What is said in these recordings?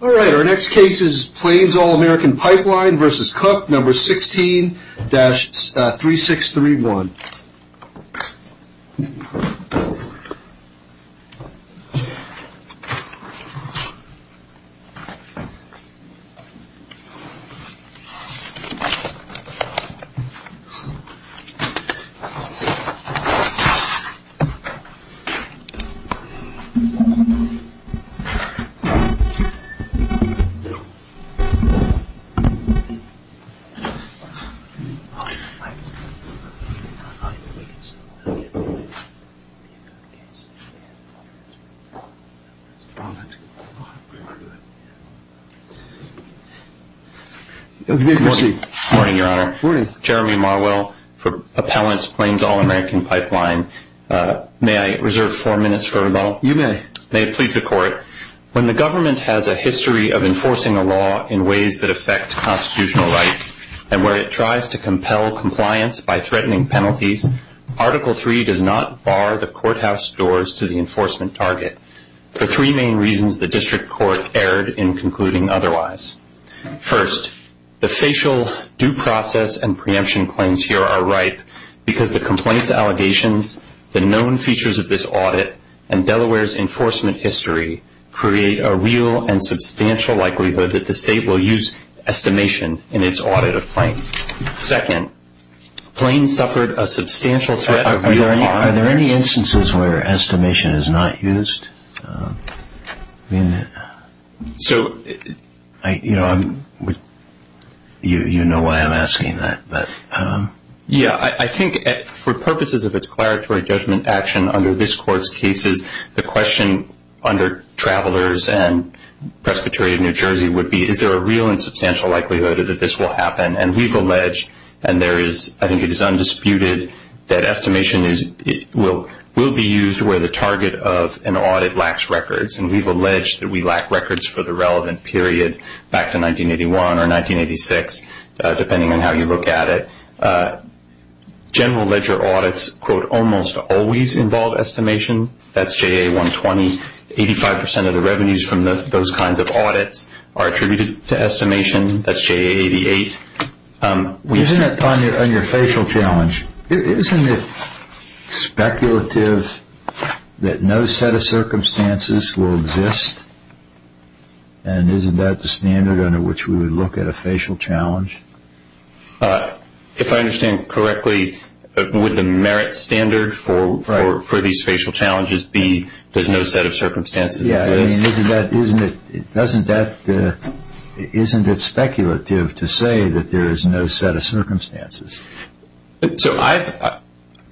Alright, our next case is Plains All American Pipeline v. Cook, No. 16-3631. May I reserve four minutes for rebuttal? You may. May it please the court, when the government has a history of enforcing a law in ways that affect constitutional rights and where it tries to compel compliance by threatening penalties, Article III does not bar the courthouse doors to the enforcement target, for three main reasons the district court erred in concluding otherwise. First, the facial due process and preemption claims here are ripe because the complaints allegations, the known features of this audit, and Delaware's enforcement history create a real and substantial likelihood that the state will use estimation in its audit of claims. Second, Plains suffered a substantial threat of real harm. Are there any instances where estimation is not used? I think for purposes of a declaratory judgment action under this court's cases, the question under Travelers and Presbyterian New Jersey would be, is there a real and substantial likelihood that this will happen? And we've alleged, and I think it is undisputed that estimation will be used where the target of an audit lacks records, and we've alleged that we lack records for the relevant period back to 1981 or 1986, depending on how you look at it. General ledger audits, quote, almost always involve estimation. That's JA120. Eighty-five percent of the revenues from those kinds of audits are attributed to estimation. That's JA88. Isn't it, Tanya, on your facial challenge, isn't it speculative that no set of circumstances will exist, and isn't that the standard under which we would look at a facial challenge? If I understand correctly, would the merit standard for these facial challenges be, there's no set of circumstances? Yeah, I mean, isn't that, isn't it, doesn't that, isn't it speculative to say that there is no set of circumstances? So I've,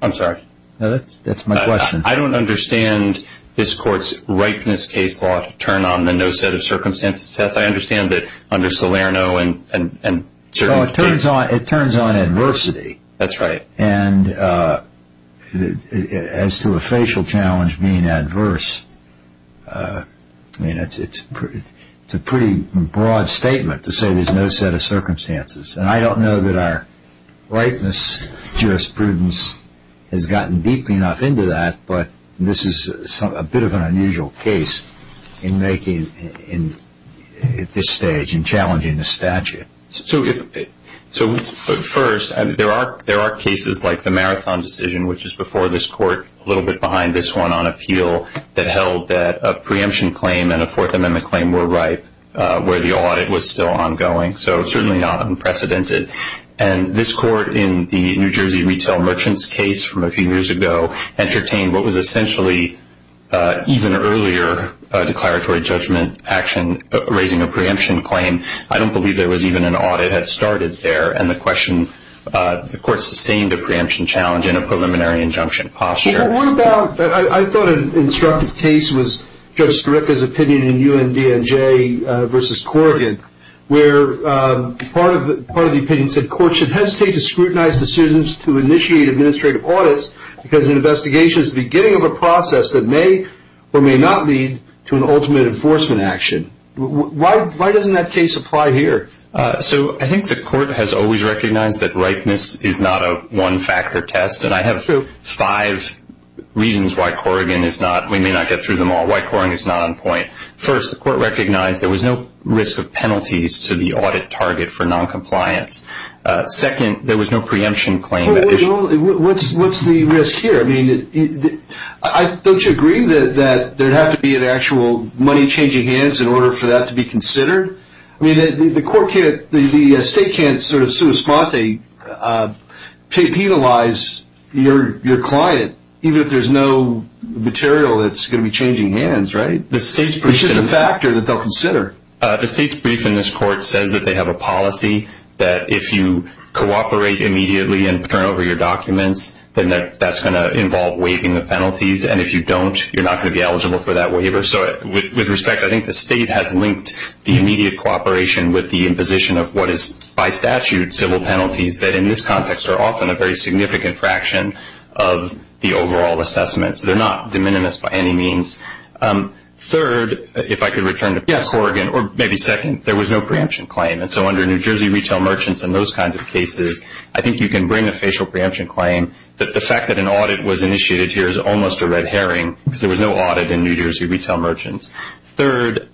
I'm sorry. That's my question. I don't understand this court's ripeness case law to turn on the no set of circumstances test. I understand that under Salerno and, and, and, So it turns on, it turns on adversity. That's right. And as to a facial challenge being adverse, I mean, it's, it's, it's a pretty broad statement to say there's no set of circumstances, and I don't know that our ripeness jurisprudence has gotten deeply enough into that, but this is some, a bit of an unusual case in making, in at this stage, in challenging the statute. So if, so first, there are, there are cases like the marathon decision, which is before this court, a little bit behind this one on appeal that held that a preemption claim and a fourth amendment claim were right where the audit was still ongoing. So certainly not unprecedented. And this court in the New Jersey retail merchants case from a few years ago entertained what was essentially even earlier declaratory judgment action, raising a preemption claim. I mean, I don't believe there was even an audit had started there. And the question, the court sustained a preemption challenge in a preliminary injunction posture. What about, I thought an instructive case was Judge Skaricka's opinion in UNDNJ versus Corrigan, where part of the, part of the opinion said court should hesitate to scrutinize decisions to initiate administrative audits because an investigation is the beginning of a process that may or may not lead to an ultimate enforcement action. Why, why doesn't that case apply here? So I think the court has always recognized that ripeness is not a one factor test. And I have five reasons why Corrigan is not, we may not get through them all. Why Corrigan is not on point. First, the court recognized there was no risk of penalties to the audit target for non-compliance. Second, there was no preemption claim. What's, what's the risk here? I mean, don't you agree that there'd have to be an actual money changing hands in order for that to be considered? I mean, the court can't, the state can't sort of sui sponte, pay, penalize your, your client, even if there's no material that's going to be changing hands, right? The state's briefed in this court says that they have a policy that if you cooperate immediately and turn over your documents, then that that's going to involve waiving the penalties. And if you don't, you're not going to be eligible for that waiver. So with respect, I think the state has linked the immediate cooperation with the imposition of what is by statute civil penalties that in this context are often a very significant fraction of the overall assessments. They're not de minimis by any means. Third, if I could return to Corrigan, or maybe second, there was no preemption claim. And so under New Jersey retail merchants and those kinds of cases, I think you can bring a facial preemption claim that the fact that an audit was initiated here is no audit in New Jersey retail merchants. Third,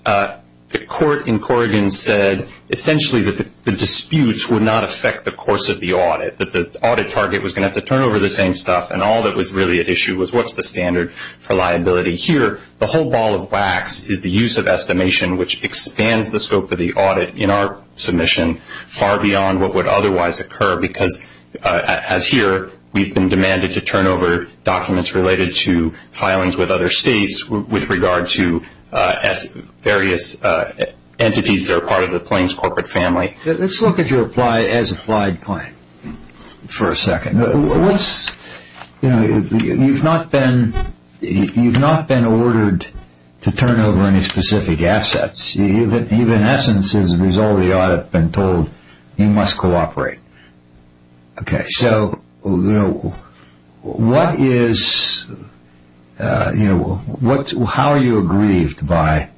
the court in Corrigan said essentially that the disputes would not affect the course of the audit, that the audit target was going to have to turn over the same stuff. And all that was really at issue was what's the standard for liability. Here, the whole ball of wax is the use of estimation, which expands the scope of the audit in our submission far beyond what would otherwise occur. Because as here, we've been demanded to turn over documents related to filings with other states with regard to various entities that are part of the claims corporate family. Let's look at your apply as applied claim for a second. You've not been ordered to turn over any specific assets. You've in essence, as a result of the audit, been told you must cooperate. Okay. So how are you aggrieved by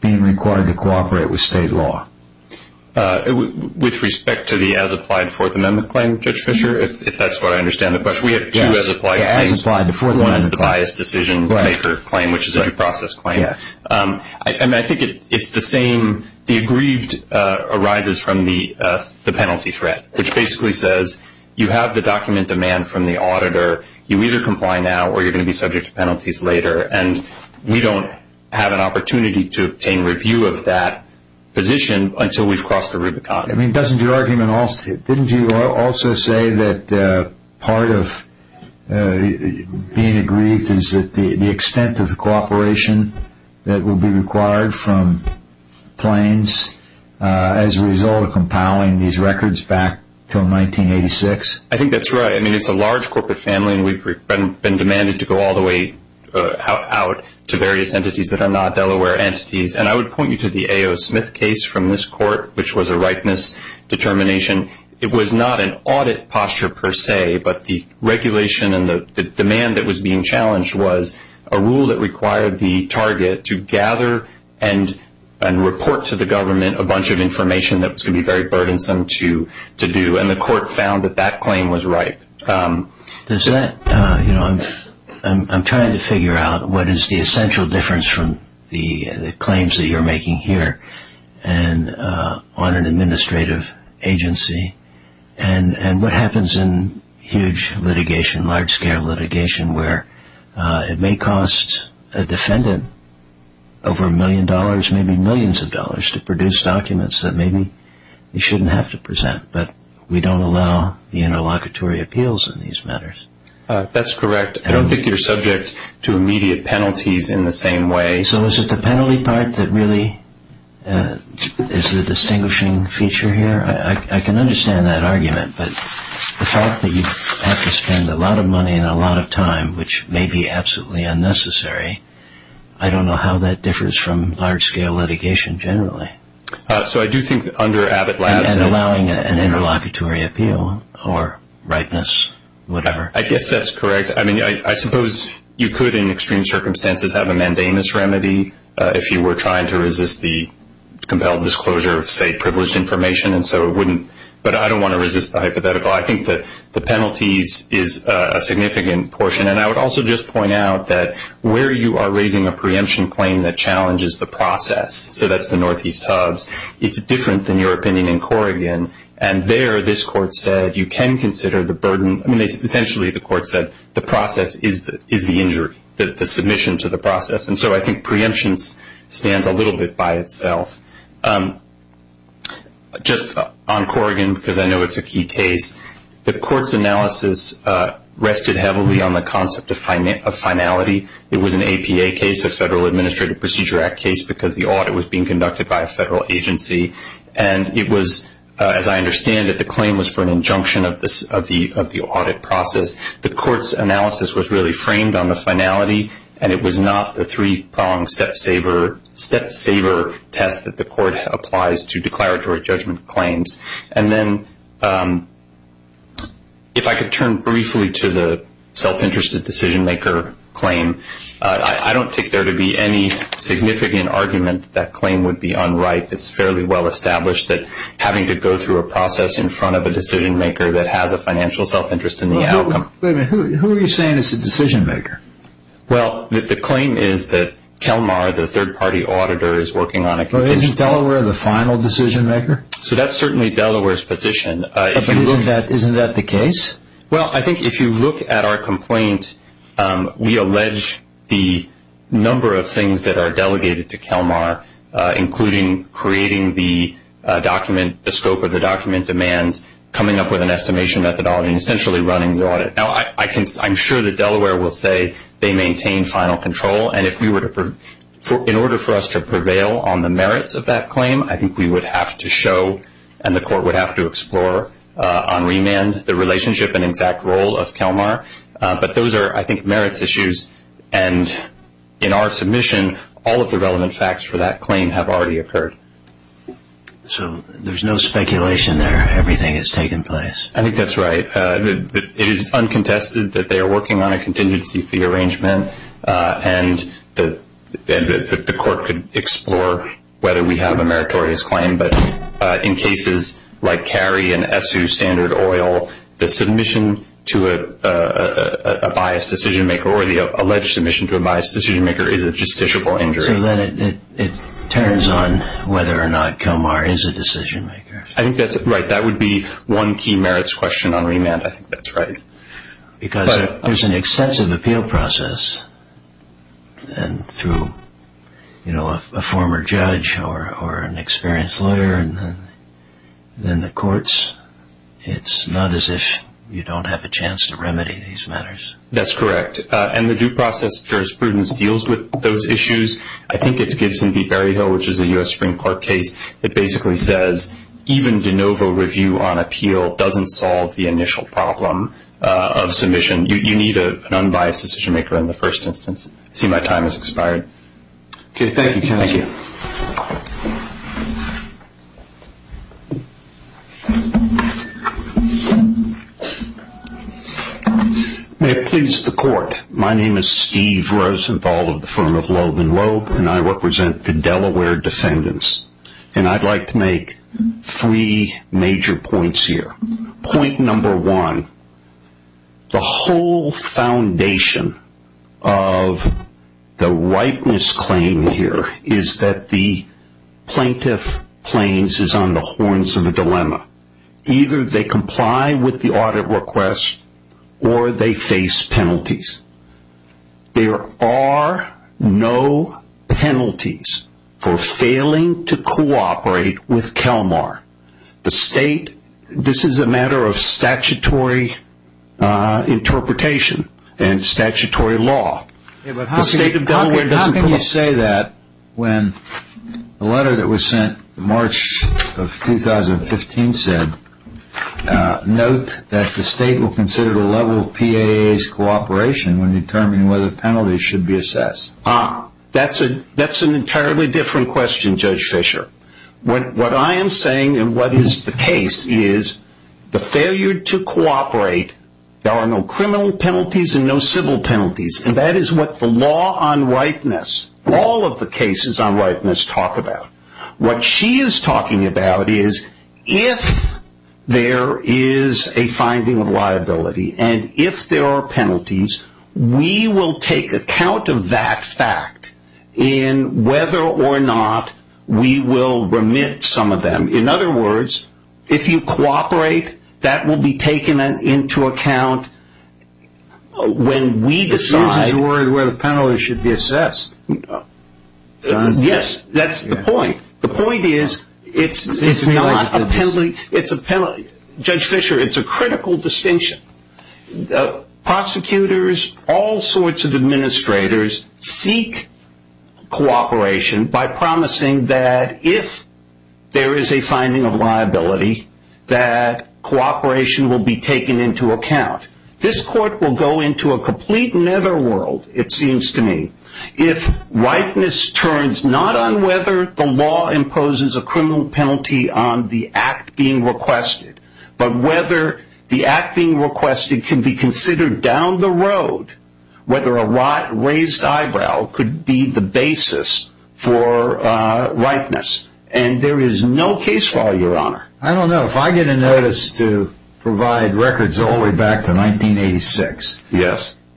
being required to cooperate with state law? With respect to the as applied Fourth Amendment claim, Judge Fischer, if that's what I understand the question. We have two as applied claims, one is the biased decision maker claim, which is a due process claim. And I think it's the same. The aggrieved arises from the penalty threat, which basically says you have the document demand from the auditor. You either comply now or you're going to be subject to penalties later. And we don't have an opportunity to obtain review of that position until we've crossed the Rubicon. I mean, doesn't your argument also, didn't you also say that part of being aggrieved is the extent of the cooperation that will be required from claims as a result of compiling these records back to 1986? I think that's right. I mean, it's a large corporate family and we've been demanded to go all the way out to various entities that are not Delaware entities. And I would point you to the A.O. Smith case from this court, which was a rightness determination. It was not an audit posture per se, but the regulation and the demand that was being challenged was a rule that required the target to gather and report to the government a bunch of information that was going to be very burdensome to do. And the court found that that claim was ripe. Does that, you know, I'm trying to figure out what is the essential difference from the claims that you're making here and on an administrative agency and what happens in huge litigation, large scale litigation, where it may cost a defendant over a million dollars, maybe millions of dollars to produce documents that maybe they shouldn't have to present, but we don't allow the interlocutory appeals in these matters. That's correct. I don't think you're subject to immediate penalties in the same way. So is it the penalty part that really is the distinguishing feature here? I can understand that argument, but the fact that you have to spend a lot of money and a lot of time, which may be absolutely unnecessary, I don't know how that differs from large scale litigation generally. So I do think under Abbott Labs... And allowing an interlocutory appeal or rightness, whatever. I guess that's correct. I suppose you could, in extreme circumstances, have a mandamus remedy if you were trying to resist the compelled disclosure of, say, privileged information. And so it wouldn't... But I don't want to resist the hypothetical. I think that the penalties is a significant portion. And I would also just point out that where you are raising a preemption claim that challenges the process, so that's the Northeast Hubs, it's different than your opinion in Corrigan. And there, this court said, you can consider the burden... Essentially, the court said, the process is the injury, the submission to the process. And so I think preemption stands a little bit by itself. Just on Corrigan, because I know it's a key case, the court's analysis rested heavily on the concept of finality. It was an APA case, a Federal Administrative Procedure Act case, because the audit was being conducted by a federal agency. And it was, as I understand it, the claim was for an injunction of the audit process. The court's analysis was really framed on the finality, and it was not the three-pronged step-saver test that the court applies to declaratory judgment claims. And then, if I could turn briefly to the self-interested decision-maker claim, I don't think there to be any significant argument that that claim would be unright. It's fairly well-established that having to go through a process in front of a decision-maker that has a financial self-interest in the outcome... Wait a minute. Who are you saying is the decision-maker? Well, the claim is that Kelmar, the third-party auditor, is working on a... Isn't Delaware the final decision-maker? So that's certainly Delaware's position. Isn't that the case? Well, I think if you look at our complaint, we allege the number of things that are delegated to Kelmar, including creating the document, the scope of the document demands, coming up with an estimation methodology, and essentially running the audit. Now, I'm sure that Delaware will say they maintain final control, and if we were to... In order for us to prevail on the merits of that claim, I think we would have to show, and the court would have to explore on remand, the relationship and exact role of Kelmar. But those are, I think, merits issues. And in our submission, all of the relevant facts for that claim have already occurred. So there's no speculation there. Everything has taken place. I think that's right. It is uncontested that they are working on a contingency fee arrangement, and that the court could explore whether we have a meritorious claim. But in cases like Cary and Essu Standard Oil, the submission to a biased decision-maker, or the alleged submission to a biased decision-maker, is a justiciable injury. So then it turns on whether or not Kelmar is a decision-maker. I think that's right. That would be one key merits question on remand. I think that's right. Because there's an extensive appeal process, and through a former judge or an experienced lawyer, and then the courts. It's not as if you don't have a chance to remedy these matters. That's correct. And the due process jurisprudence deals with those issues. I think it's Gibson v. Berryhill, which is a U.S. Supreme Court case, that basically says even de novo review on appeal doesn't solve the initial problem of submission. You need an unbiased decision-maker in the first instance. I see my time has expired. Okay. Thank you, counsel. Thank you. May it please the court. My name is Steve Rosenthal of the firm of Loeb & Loeb, and I represent the Delaware defendants. And I'd like to make three major points here. Point number one, the whole foundation of the ripeness claim here is that the plaintiff claims is on the horns of a dilemma. Either they comply with the audit request, or they face penalties. There are no penalties for failing to cooperate with Kelmar. The state, this is a matter of statutory interpretation and statutory law. Yeah, but how can you say that when the letter that was sent in March of 2015 said, note that the state will consider the level of PAA's cooperation when determining whether penalties should be assessed? Ah, that's an entirely different question, Judge Fisher. What I am saying and what is the case is the failure to cooperate, there are no criminal penalties and no civil penalties. And that is what the law on ripeness, all of the cases on ripeness talk about. What she is talking about is if there is a finding of liability, and if there are penalties, we will take account of that fact in whether or not we will remit some of them. In other words, if you cooperate, that will be taken into account when we decide. This uses the word where the penalties should be assessed. Yes, that's the point. The point is it's not a penalty, it's a penalty. Judge Fisher, it's a critical distinction. The prosecutors, all sorts of administrators seek cooperation by promising that if there is a finding of liability, that cooperation will be taken into account. This court will go into a complete nether world, it seems to me, if ripeness turns not on whether the law imposes a criminal penalty on the act being requested, but whether the act being requested can be considered down the road, whether a raised eyebrow could be the basis for ripeness. And there is no case law, Your Honor. I don't know. If I get a notice to provide records all the way back to 1986,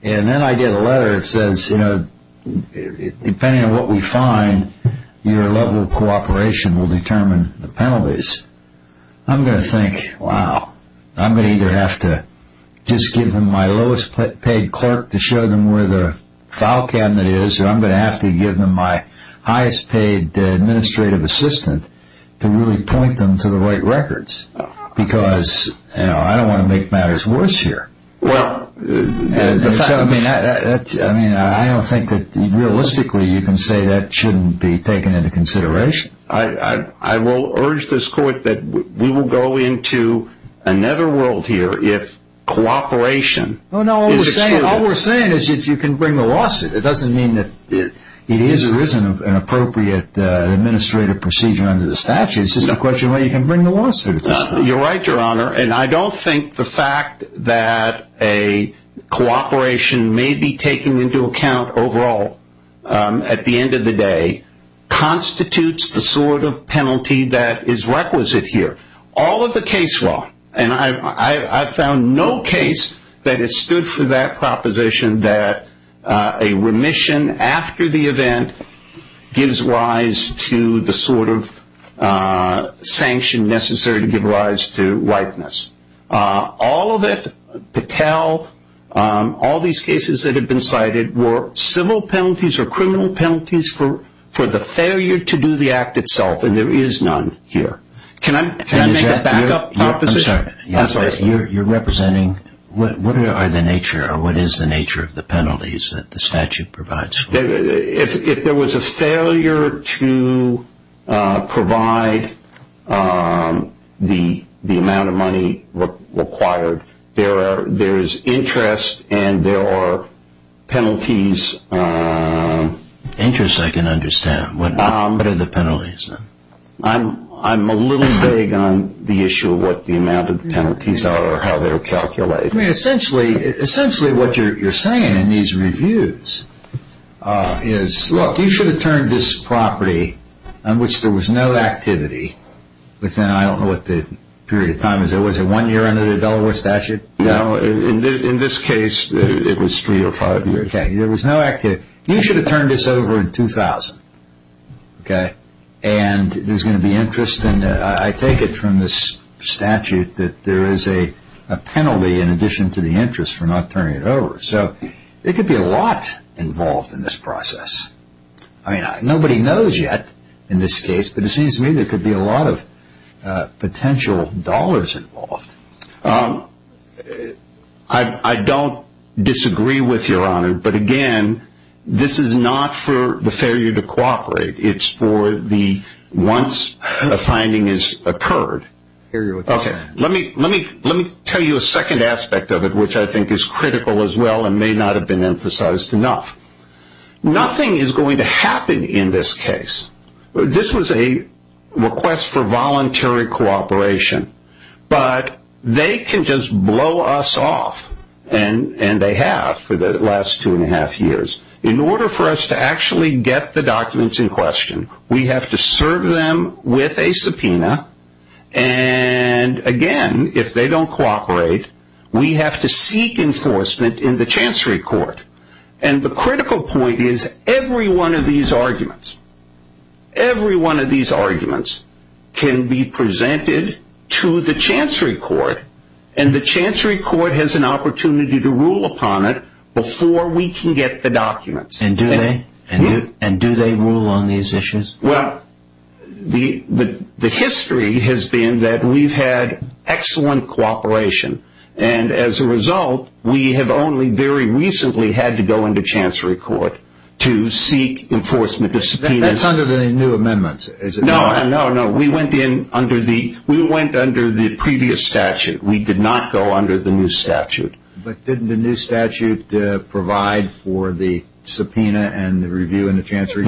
and then I get a letter that says, depending on what we find, your level of cooperation will determine the penalties, I'm going to think, wow, I'm going to either have to just give them my lowest paid clerk to show them where the file cabinet is, or I'm going to have to give them my highest paid administrative assistant to really point them to the right records, because I don't want to make matters worse here. I don't think that realistically you can say that shouldn't be taken into consideration. I will urge this court that we will go into a nether world here if cooperation is excluded. All we're saying is that you can bring the lawsuit. It doesn't mean that it is or isn't an appropriate administrative procedure under the statute. It's just a question of whether you can bring the lawsuit. You're right, Your Honor. And I don't think the fact that a cooperation may be taken into account overall at the end of the day constitutes the sort of penalty that is requisite here. All of the case law, and I've found no case that has stood for that proposition that a remission after the event gives rise to the sort of sanction necessary to give rise to whiteness. All of it, Patel, all these cases that have been cited were civil penalties or criminal penalties for the failure to do the act itself, and there is none here. Can I make a backup proposition? I'm sorry, you're representing what are the nature or what is the nature of the penalties that the statute provides? If there was a failure to provide the amount of money required, there is interest and there are penalties. Interest I can understand. What are the penalties? I'm a little vague on the issue of what the amount of penalties are or how they're calculated. I mean, essentially what you're saying in these reviews is, look, you should have turned this property on which there was no activity within, I don't know what the period of time is, was it one year under the Delaware statute? No, in this case it was three or five years. Okay, there was no activity. You should have turned this over in 2000, okay, and there's going to be interest. And I take it from this statute that there is a penalty in addition to the interest for not turning it over. So there could be a lot involved in this process. I mean, nobody knows yet in this case, but it seems to me there could be a lot of potential dollars involved. I don't disagree with your honor, but again, this is not for the failure to cooperate. It's for the once a finding has occurred. Okay, let me tell you a second aspect of it, which I think is critical as well and may not have been emphasized enough. Nothing is going to happen in this case. This was a request for voluntary cooperation, but they can just blow us off and they have for the last two and a half years. In order for us to actually get the documents in question, we have to serve them with a subpoena and again, if they don't cooperate, we have to seek enforcement in the chancery court. And the critical point is every one of these arguments, every one of these arguments can be presented to the chancery court and the chancery court has an opportunity to rule upon it before we can get the documents. And do they rule on these issues? Well, the history has been that we've had excellent cooperation and as a result, we have only very recently had to go into chancery court to seek enforcement. That's under the new amendments, is it? No, no, no. We went in under the we went under the previous statute. We did not go under the new statute. But didn't the new statute provide for the subpoena and the review in the chancery?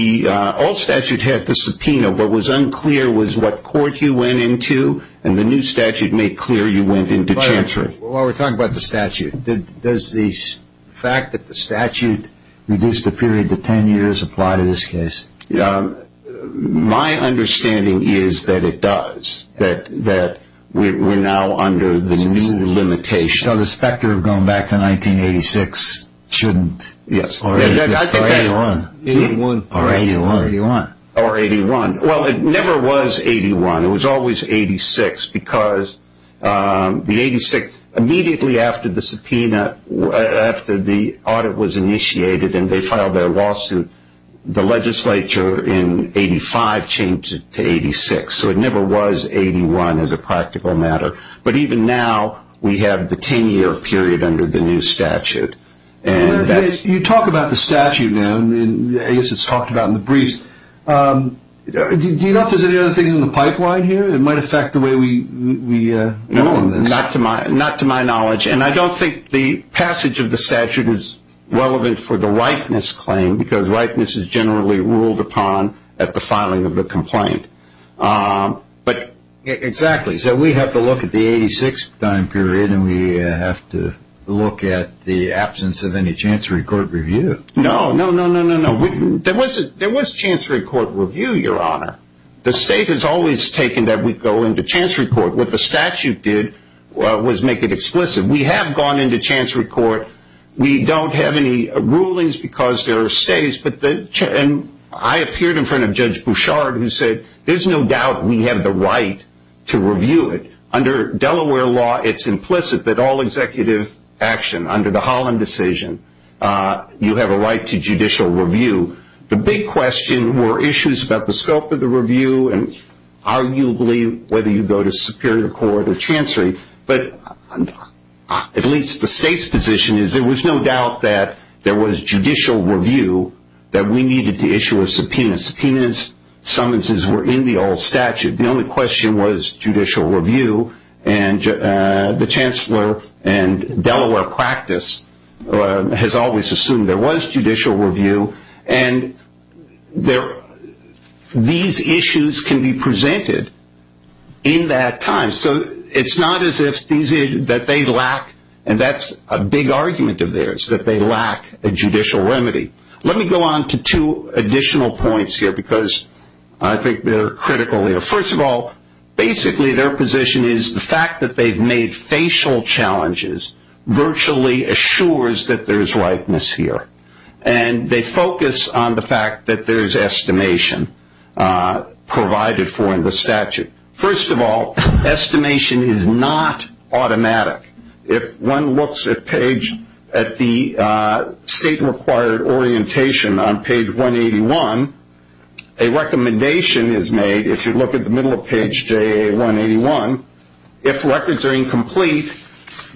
The old statute had the subpoena. What was unclear was what court you went into and the new statute made clear you went into chancery. While we're talking about the statute, does the fact that the statute reduced the period to 10 years apply to this case? My understanding is that it does. That we're now under the new limitation. So the specter of going back to 1986 shouldn't. Yes. Or 81. 81. Or 81. Or 81. Well, it never was 81. It was always 86 because the 86 immediately after the subpoena, after the audit was initiated and they filed their lawsuit, the legislature in 85 changed to 86. So it never was 81 as a practical matter. But even now, we have the 10 year period under the new statute. You talk about the statute now, I guess it's talked about in the briefs. Do you notice any other things in the pipeline here that might affect the way we go on this? Not to my knowledge. And I don't think the passage of the statute is relevant for the ripeness claim because ripeness is generally ruled upon at the filing of the complaint. Exactly. So we have to look at the 86 time period and we have to look at the absence of any chancery court review. No, no, no, no, no, no. There was chancery court review, your honor. The state has always taken that we go into chancery court. What the statute did was make it explicit. We have gone into chancery court. We don't have any rulings because there are states. And I appeared in front of Judge Bouchard who said, there's no doubt we have the right to review it. Under Delaware law, it's implicit that all executive action under the Holland decision, you have a right to judicial review. The big question were issues about the scope of the review and arguably whether you go to superior court or chancery. But at least the state's position is there was no doubt that there was judicial review that we needed to issue a subpoena. Subpoenas, summonses were in the old statute. The only question was judicial review. And the chancellor and Delaware practice has always assumed there was judicial review. And these issues can be presented in that time. So it's not as if they lack, and that's a big argument of theirs, that they lack a judicial remedy. Let me go on to two additional points here because I think they're critical here. First of all, basically their position is the fact that they've made facial challenges virtually assures that there's rightness here. And they focus on the fact that there's estimation provided for in the statute. First of all, estimation is not automatic. If one looks at page, at the state required orientation on page 181, a recommendation is made. If you look at the middle of page 181, if records are incomplete,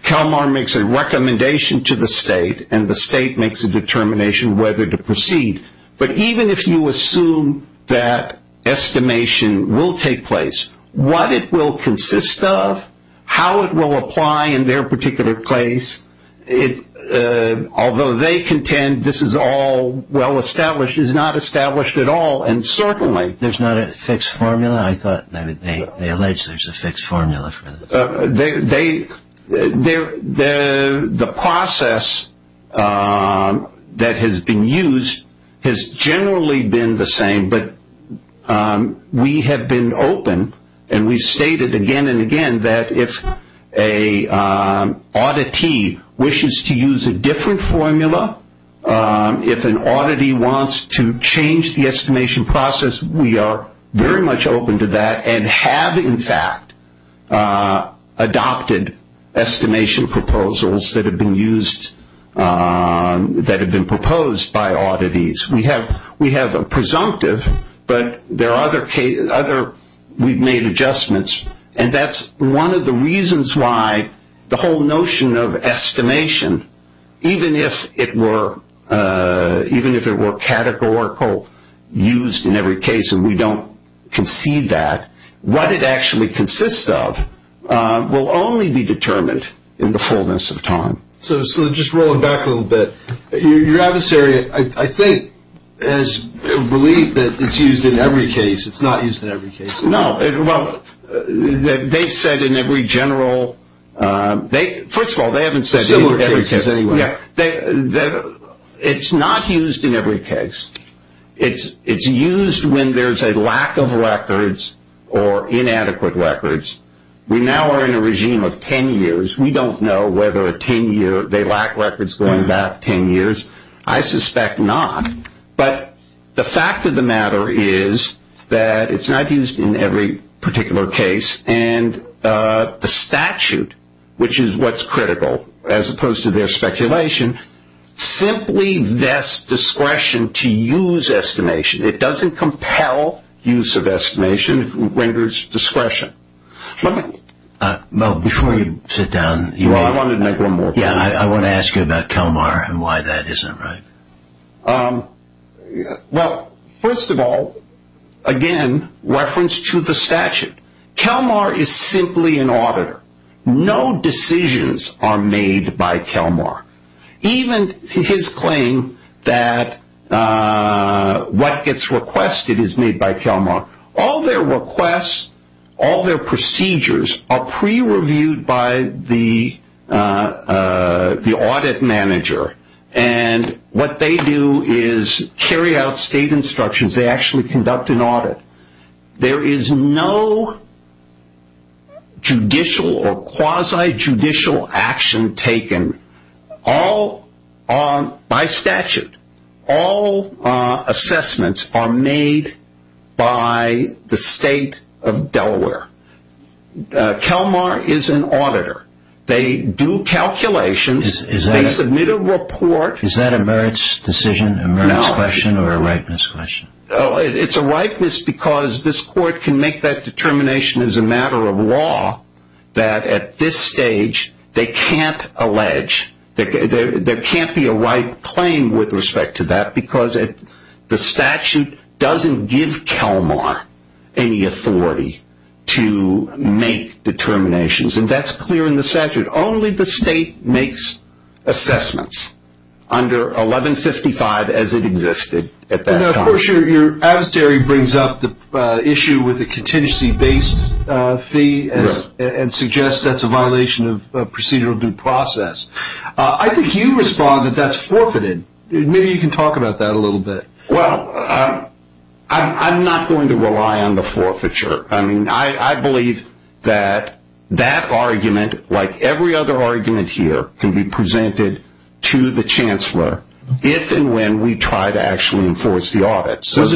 Kelmar makes a recommendation to the state and the state makes a determination whether to proceed. But even if you assume that estimation will take place, what it will consist of, how it will apply in their particular place, although they contend this is all well established, it's not established at all. Certainly. There's not a fixed formula? I thought they alleged there's a fixed formula for this. The process that has been used has generally been the same, but we have been open and we stated again and again that if an oddity wishes to use a different formula, if an oddity wants to change the estimation process, we are very much open to that and have, in fact, adopted estimation proposals that have been used, that have been proposed by oddities. We have a presumptive, but there are other, we've made adjustments, and that's one of the reasons why the whole notion of estimation, even if it were categorical, used in every case and we don't concede that, what it actually consists of will only be determined in the fullness of time. So just rolling back a little bit, your adversary, I think, has believed that it's used in every case. It's not used in every case. No, well, they said in every general, first of all, they haven't said it's not used in every case. It's used when there's a lack of records or inadequate records. We now are in a regime of 10 years. We don't know whether they lack records going back 10 years. I suspect not. But the fact of the matter is that it's not used in every particular case, and the statute, which is what's critical, as opposed to their speculation, simply vests discretion to use estimation. It doesn't compel use of estimation. It renders discretion. Well, before you sit down, I want to ask you about Kelmar and why that isn't right. Well, first of all, again, reference to the statute. Kelmar is simply an auditor. No decisions are made by Kelmar. Even his claim that what gets requested is made by Kelmar. All their requests, all their procedures are pre-reviewed by the audit manager, and what they do is carry out state instructions. They actually conduct an audit. There is no judicial or quasi-judicial action taken. All, by statute, all assessments are made by the state of Delaware. Kelmar is an auditor. They do calculations. They submit a report. Is that a merits decision, a merits question, or a ripeness question? No, it's a ripeness because this court can make that determination as a matter of law that, at this stage, they can't allege, there can't be a right claim with respect to that because the statute doesn't give Kelmar any authority to make determinations, and that's clear in the statute. Only the state makes assessments under 1155 as it existed at that time. Now, of course, your adversary brings up the issue with the contingency-based fee and suggests that's a violation of procedural due process. I think you respond that that's forfeited. Maybe you can talk about that a little bit. Well, I'm not going to rely on the forfeiture. I believe that that argument, like every other argument here, can be presented to the chancellor if and when we try to actually enforce the audit. Was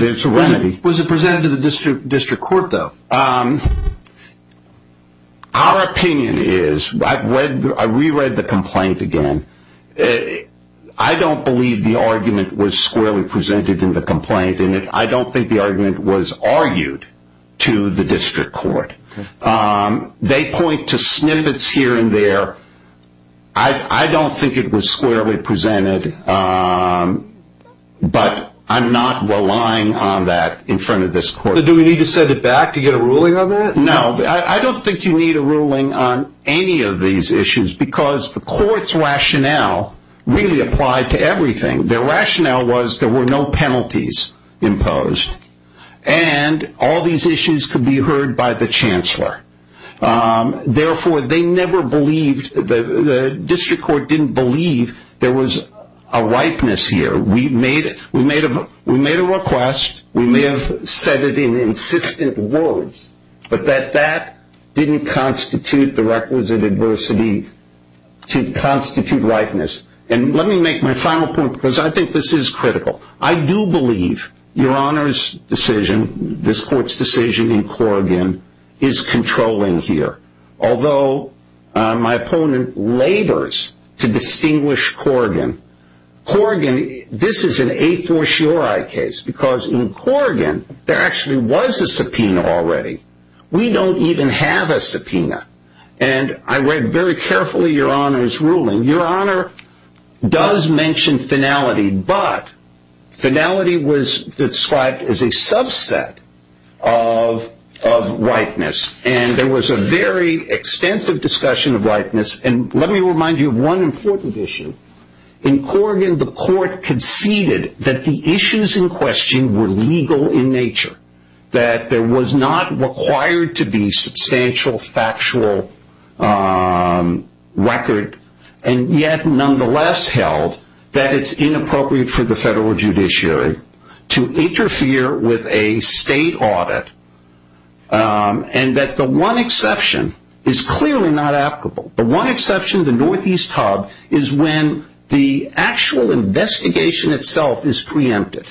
it presented to the district court, though? Our opinion is, I reread the complaint again, I don't believe the argument was squarely to the district court. They point to snippets here and there. I don't think it was squarely presented, but I'm not relying on that in front of this court. Do we need to set it back to get a ruling on that? No, I don't think you need a ruling on any of these issues because the court's rationale really applied to everything. Their rationale was there were no penalties imposed and all these issues could be heard by the chancellor. Therefore, the district court didn't believe there was a ripeness here. We made a request. We may have said it in insistent words, but that didn't constitute the requisite adversity to constitute ripeness. Let me make my final point because I think this is critical. I do believe Your Honor's decision, this court's decision in Corrigan is controlling here. Although my opponent labors to distinguish Corrigan, this is an a for sure I case because in Corrigan there actually was a subpoena already. We don't even have a subpoena. I read very carefully Your Honor's ruling. Your Honor does mention finality, but finality was described as a subset of ripeness and there was a very extensive discussion of ripeness. Let me remind you of one important issue. In Corrigan, the court conceded that the issues in question were legal in nature, that there nonetheless held that it's inappropriate for the federal judiciary to interfere with a state audit and that the one exception is clearly not applicable. The one exception, the northeast hub, is when the actual investigation itself is preempted.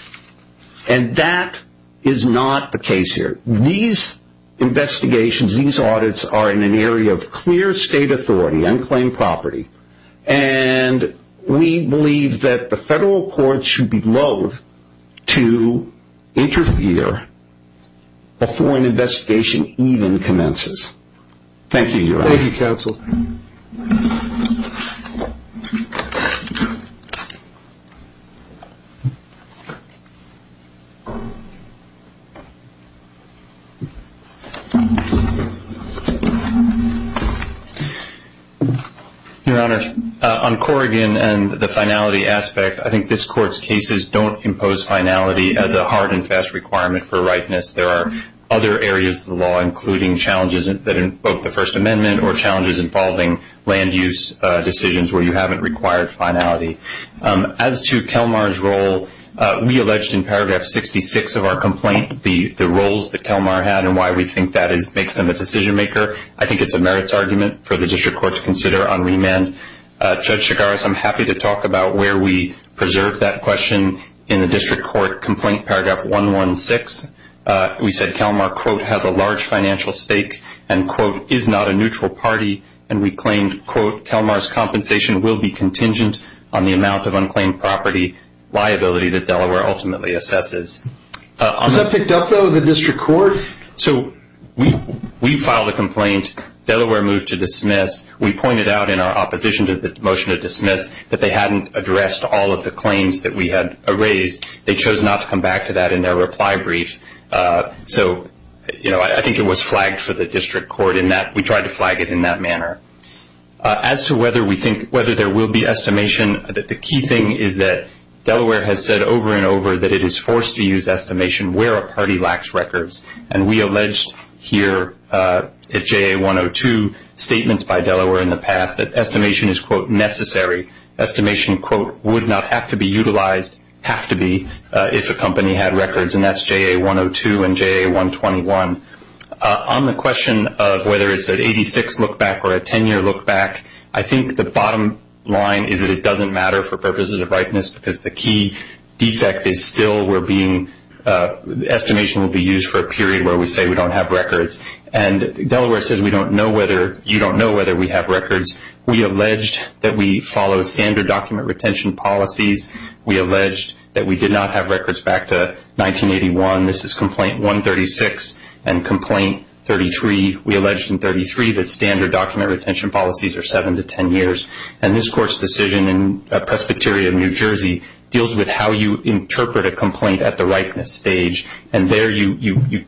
That is not the case here. These investigations, these audits are in an area of clear state authority, unclaimed property, and we believe that the federal court should be loathe to interfere before an investigation even commences. Thank you, Your Honor. Thank you, counsel. Your Honor, on Corrigan and the finality aspect, I think this court's cases don't impose finality as a hard and fast requirement for ripeness. There are other areas of the law, including challenges that invoke the First Amendment or challenges involving land use decisions where you haven't required finality. As to Kelmar's role, we alleged in paragraph 66 of our complaint the roles that Kelmar had and why we think that makes them a decision maker. I think it's a merits argument for the district court to consider on remand. Judge Chigaris, I'm happy to talk about where we preserve that question in the district court complaint, paragraph 116. We said Kelmar, quote, has a large financial stake and, quote, is not a neutral party, and we claimed, quote, Kelmar's compensation will be contingent on the amount of unclaimed property liability that Delaware ultimately assesses. Was that picked up, though, in the district court? So we filed a complaint. Delaware moved to dismiss. We pointed out in our opposition to the motion to dismiss that they hadn't addressed all of the claims that we had raised. They chose not to come back to that in their reply brief. So, you know, I think it was flagged for the district court in that we tried to flag it in that manner. As to whether there will be estimation, the key thing is that Delaware has said over and we alleged here at JA-102 statements by Delaware in the past that estimation is, quote, necessary. Estimation, quote, would not have to be utilized, have to be, if a company had records, and that's JA-102 and JA-121. On the question of whether it's an 86 look back or a 10-year look back, I think the bottom line is that it doesn't matter for purposes of rightness because the key defect is still we're being, estimation will be used for a period where we say we don't have records. And Delaware says we don't know whether, you don't know whether we have records. We alleged that we follow standard document retention policies. We alleged that we did not have records back to 1981. This is complaint 136 and complaint 33. We alleged in 33 that standard document retention policies are 7 to 10 years. And this court's decision in Presbyterian, New Jersey, deals with how you interpret a complaint at the rightness stage. And there you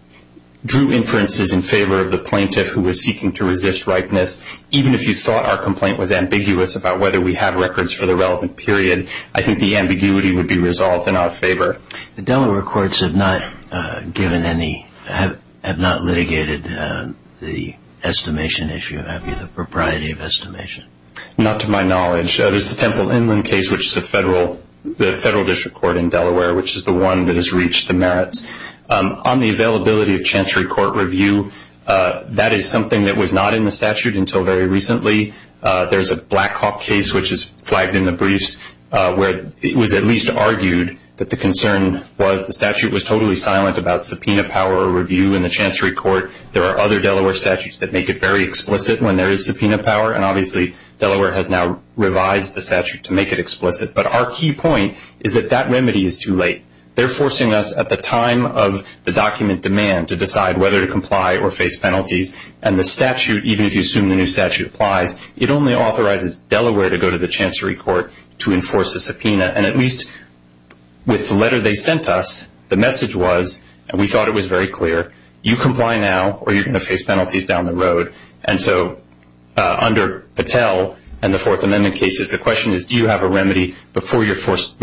drew inferences in favor of the plaintiff who was seeking to resist rightness. Even if you thought our complaint was ambiguous about whether we have records for the relevant period, I think the ambiguity would be resolved in our favor. The Delaware courts have not given any, have not litigated the estimation issue, have you, the propriety of estimation? Not to my knowledge. There's the Temple Inland case, which is a federal, the federal district court in Delaware, which is the one that has reached the merits. On the availability of chancery court review, that is something that was not in the statute until very recently. There's a Blackhawk case, which is flagged in the briefs, where it was at least argued that the concern was the statute was totally silent about subpoena power or review in the chancery court. There are other Delaware statutes that make it very explicit when there is subpoena power. And obviously, Delaware has now revised the statute to make it explicit. But our key point is that that remedy is too late. They're forcing us at the time of the document demand to decide whether to comply or face penalties. And the statute, even if you assume the new statute applies, it only authorizes Delaware to go to the chancery court to enforce a subpoena. And at least with the letter they sent us, the message was, and we thought it was very clear, you comply now or you're going to face penalties down the road. And so under Patel and the Fourth Amendment cases, the question is, do you have a remedy before you are forced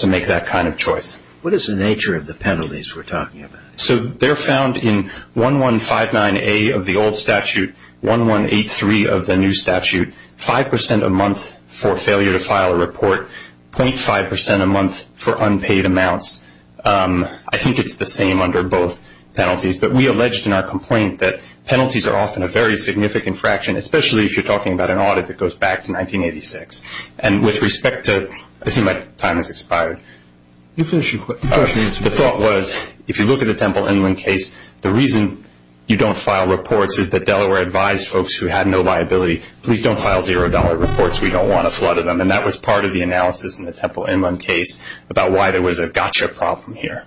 to make that kind of choice? What is the nature of the penalties we're talking about? So they're found in 1159A of the old statute, 1183 of the new statute, 5% a month for failure to file a report, 0.5% a month for unpaid amounts. I think it's the same under both penalties. But we alleged in our complaint that penalties are often a very significant fraction, especially if you're talking about an audit that goes back to 1986. And with respect to, I see my time has expired. You finish your question. The thought was, if you look at the Temple Inland case, the reason you don't file reports is that Delaware advised folks who had no liability, please don't file $0 reports. We don't want to flood them. And that was part of the analysis in the Temple Inland case about why there was a gotcha problem here.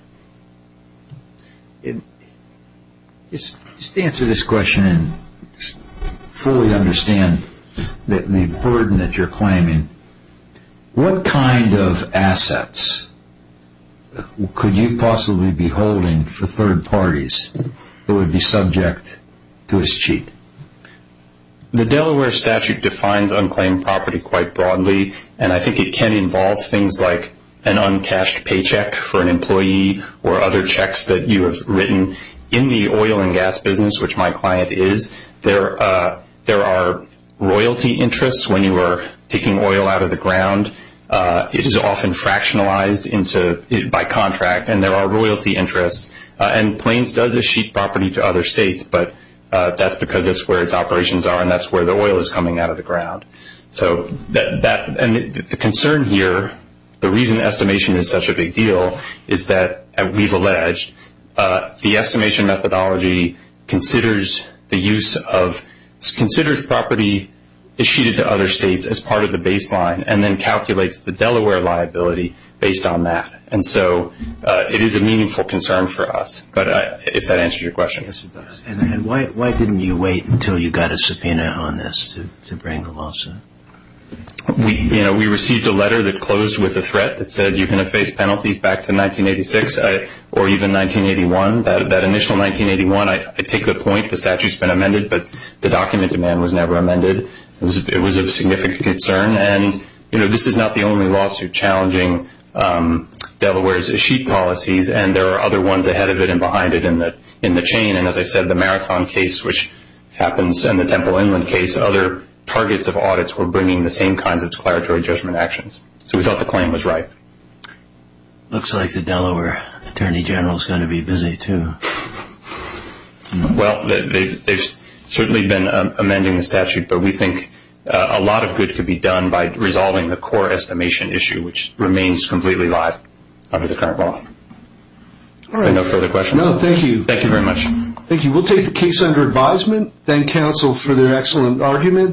Just to answer this question and fully understand the burden that you're claiming, what kind of assets could you possibly be holding for third parties that would be subject to this cheat? The Delaware statute defines unclaimed property quite broadly. And I think it can involve things like an uncashed paycheck for an employee or other In the oil and gas business, which my client is, there are royalty interests when you are taking oil out of the ground. It is often fractionalized by contract. And there are royalty interests. And Plains does a sheet property to other states. But that's because that's where its operations are. And that's where the oil is coming out of the ground. And the concern here, the reason estimation is such a big deal, is that we've alleged the estimation methodology considers property issued to other states as part of the baseline and then calculates the Delaware liability based on that. And so it is a meaningful concern for us, if that answers your question. Why didn't you wait until you got a subpoena on this to bring the lawsuit? We received a letter that closed with a threat that said you're going to face penalties back to 1986 or even 1981. That initial 1981, I take the point. The statute's been amended. But the document demand was never amended. It was of significant concern. And this is not the only lawsuit challenging Delaware's sheet policies. And there are other ones ahead of it and behind it in the chain. And as I said, the Marathon case, which happens, and the Temple Inland case, other targets of audits were bringing the same kinds of declaratory judgment actions. So we thought the claim was right. It looks like the Delaware attorney general is going to be busy, too. Well, they've certainly been amending the statute. But we think a lot of good could be done by resolving the core estimation issue, which remains completely live under the current law. Are there no further questions? No, thank you. Thank you very much. Thank you. We'll take the case under advisement. Thank counsel for their excellent argument.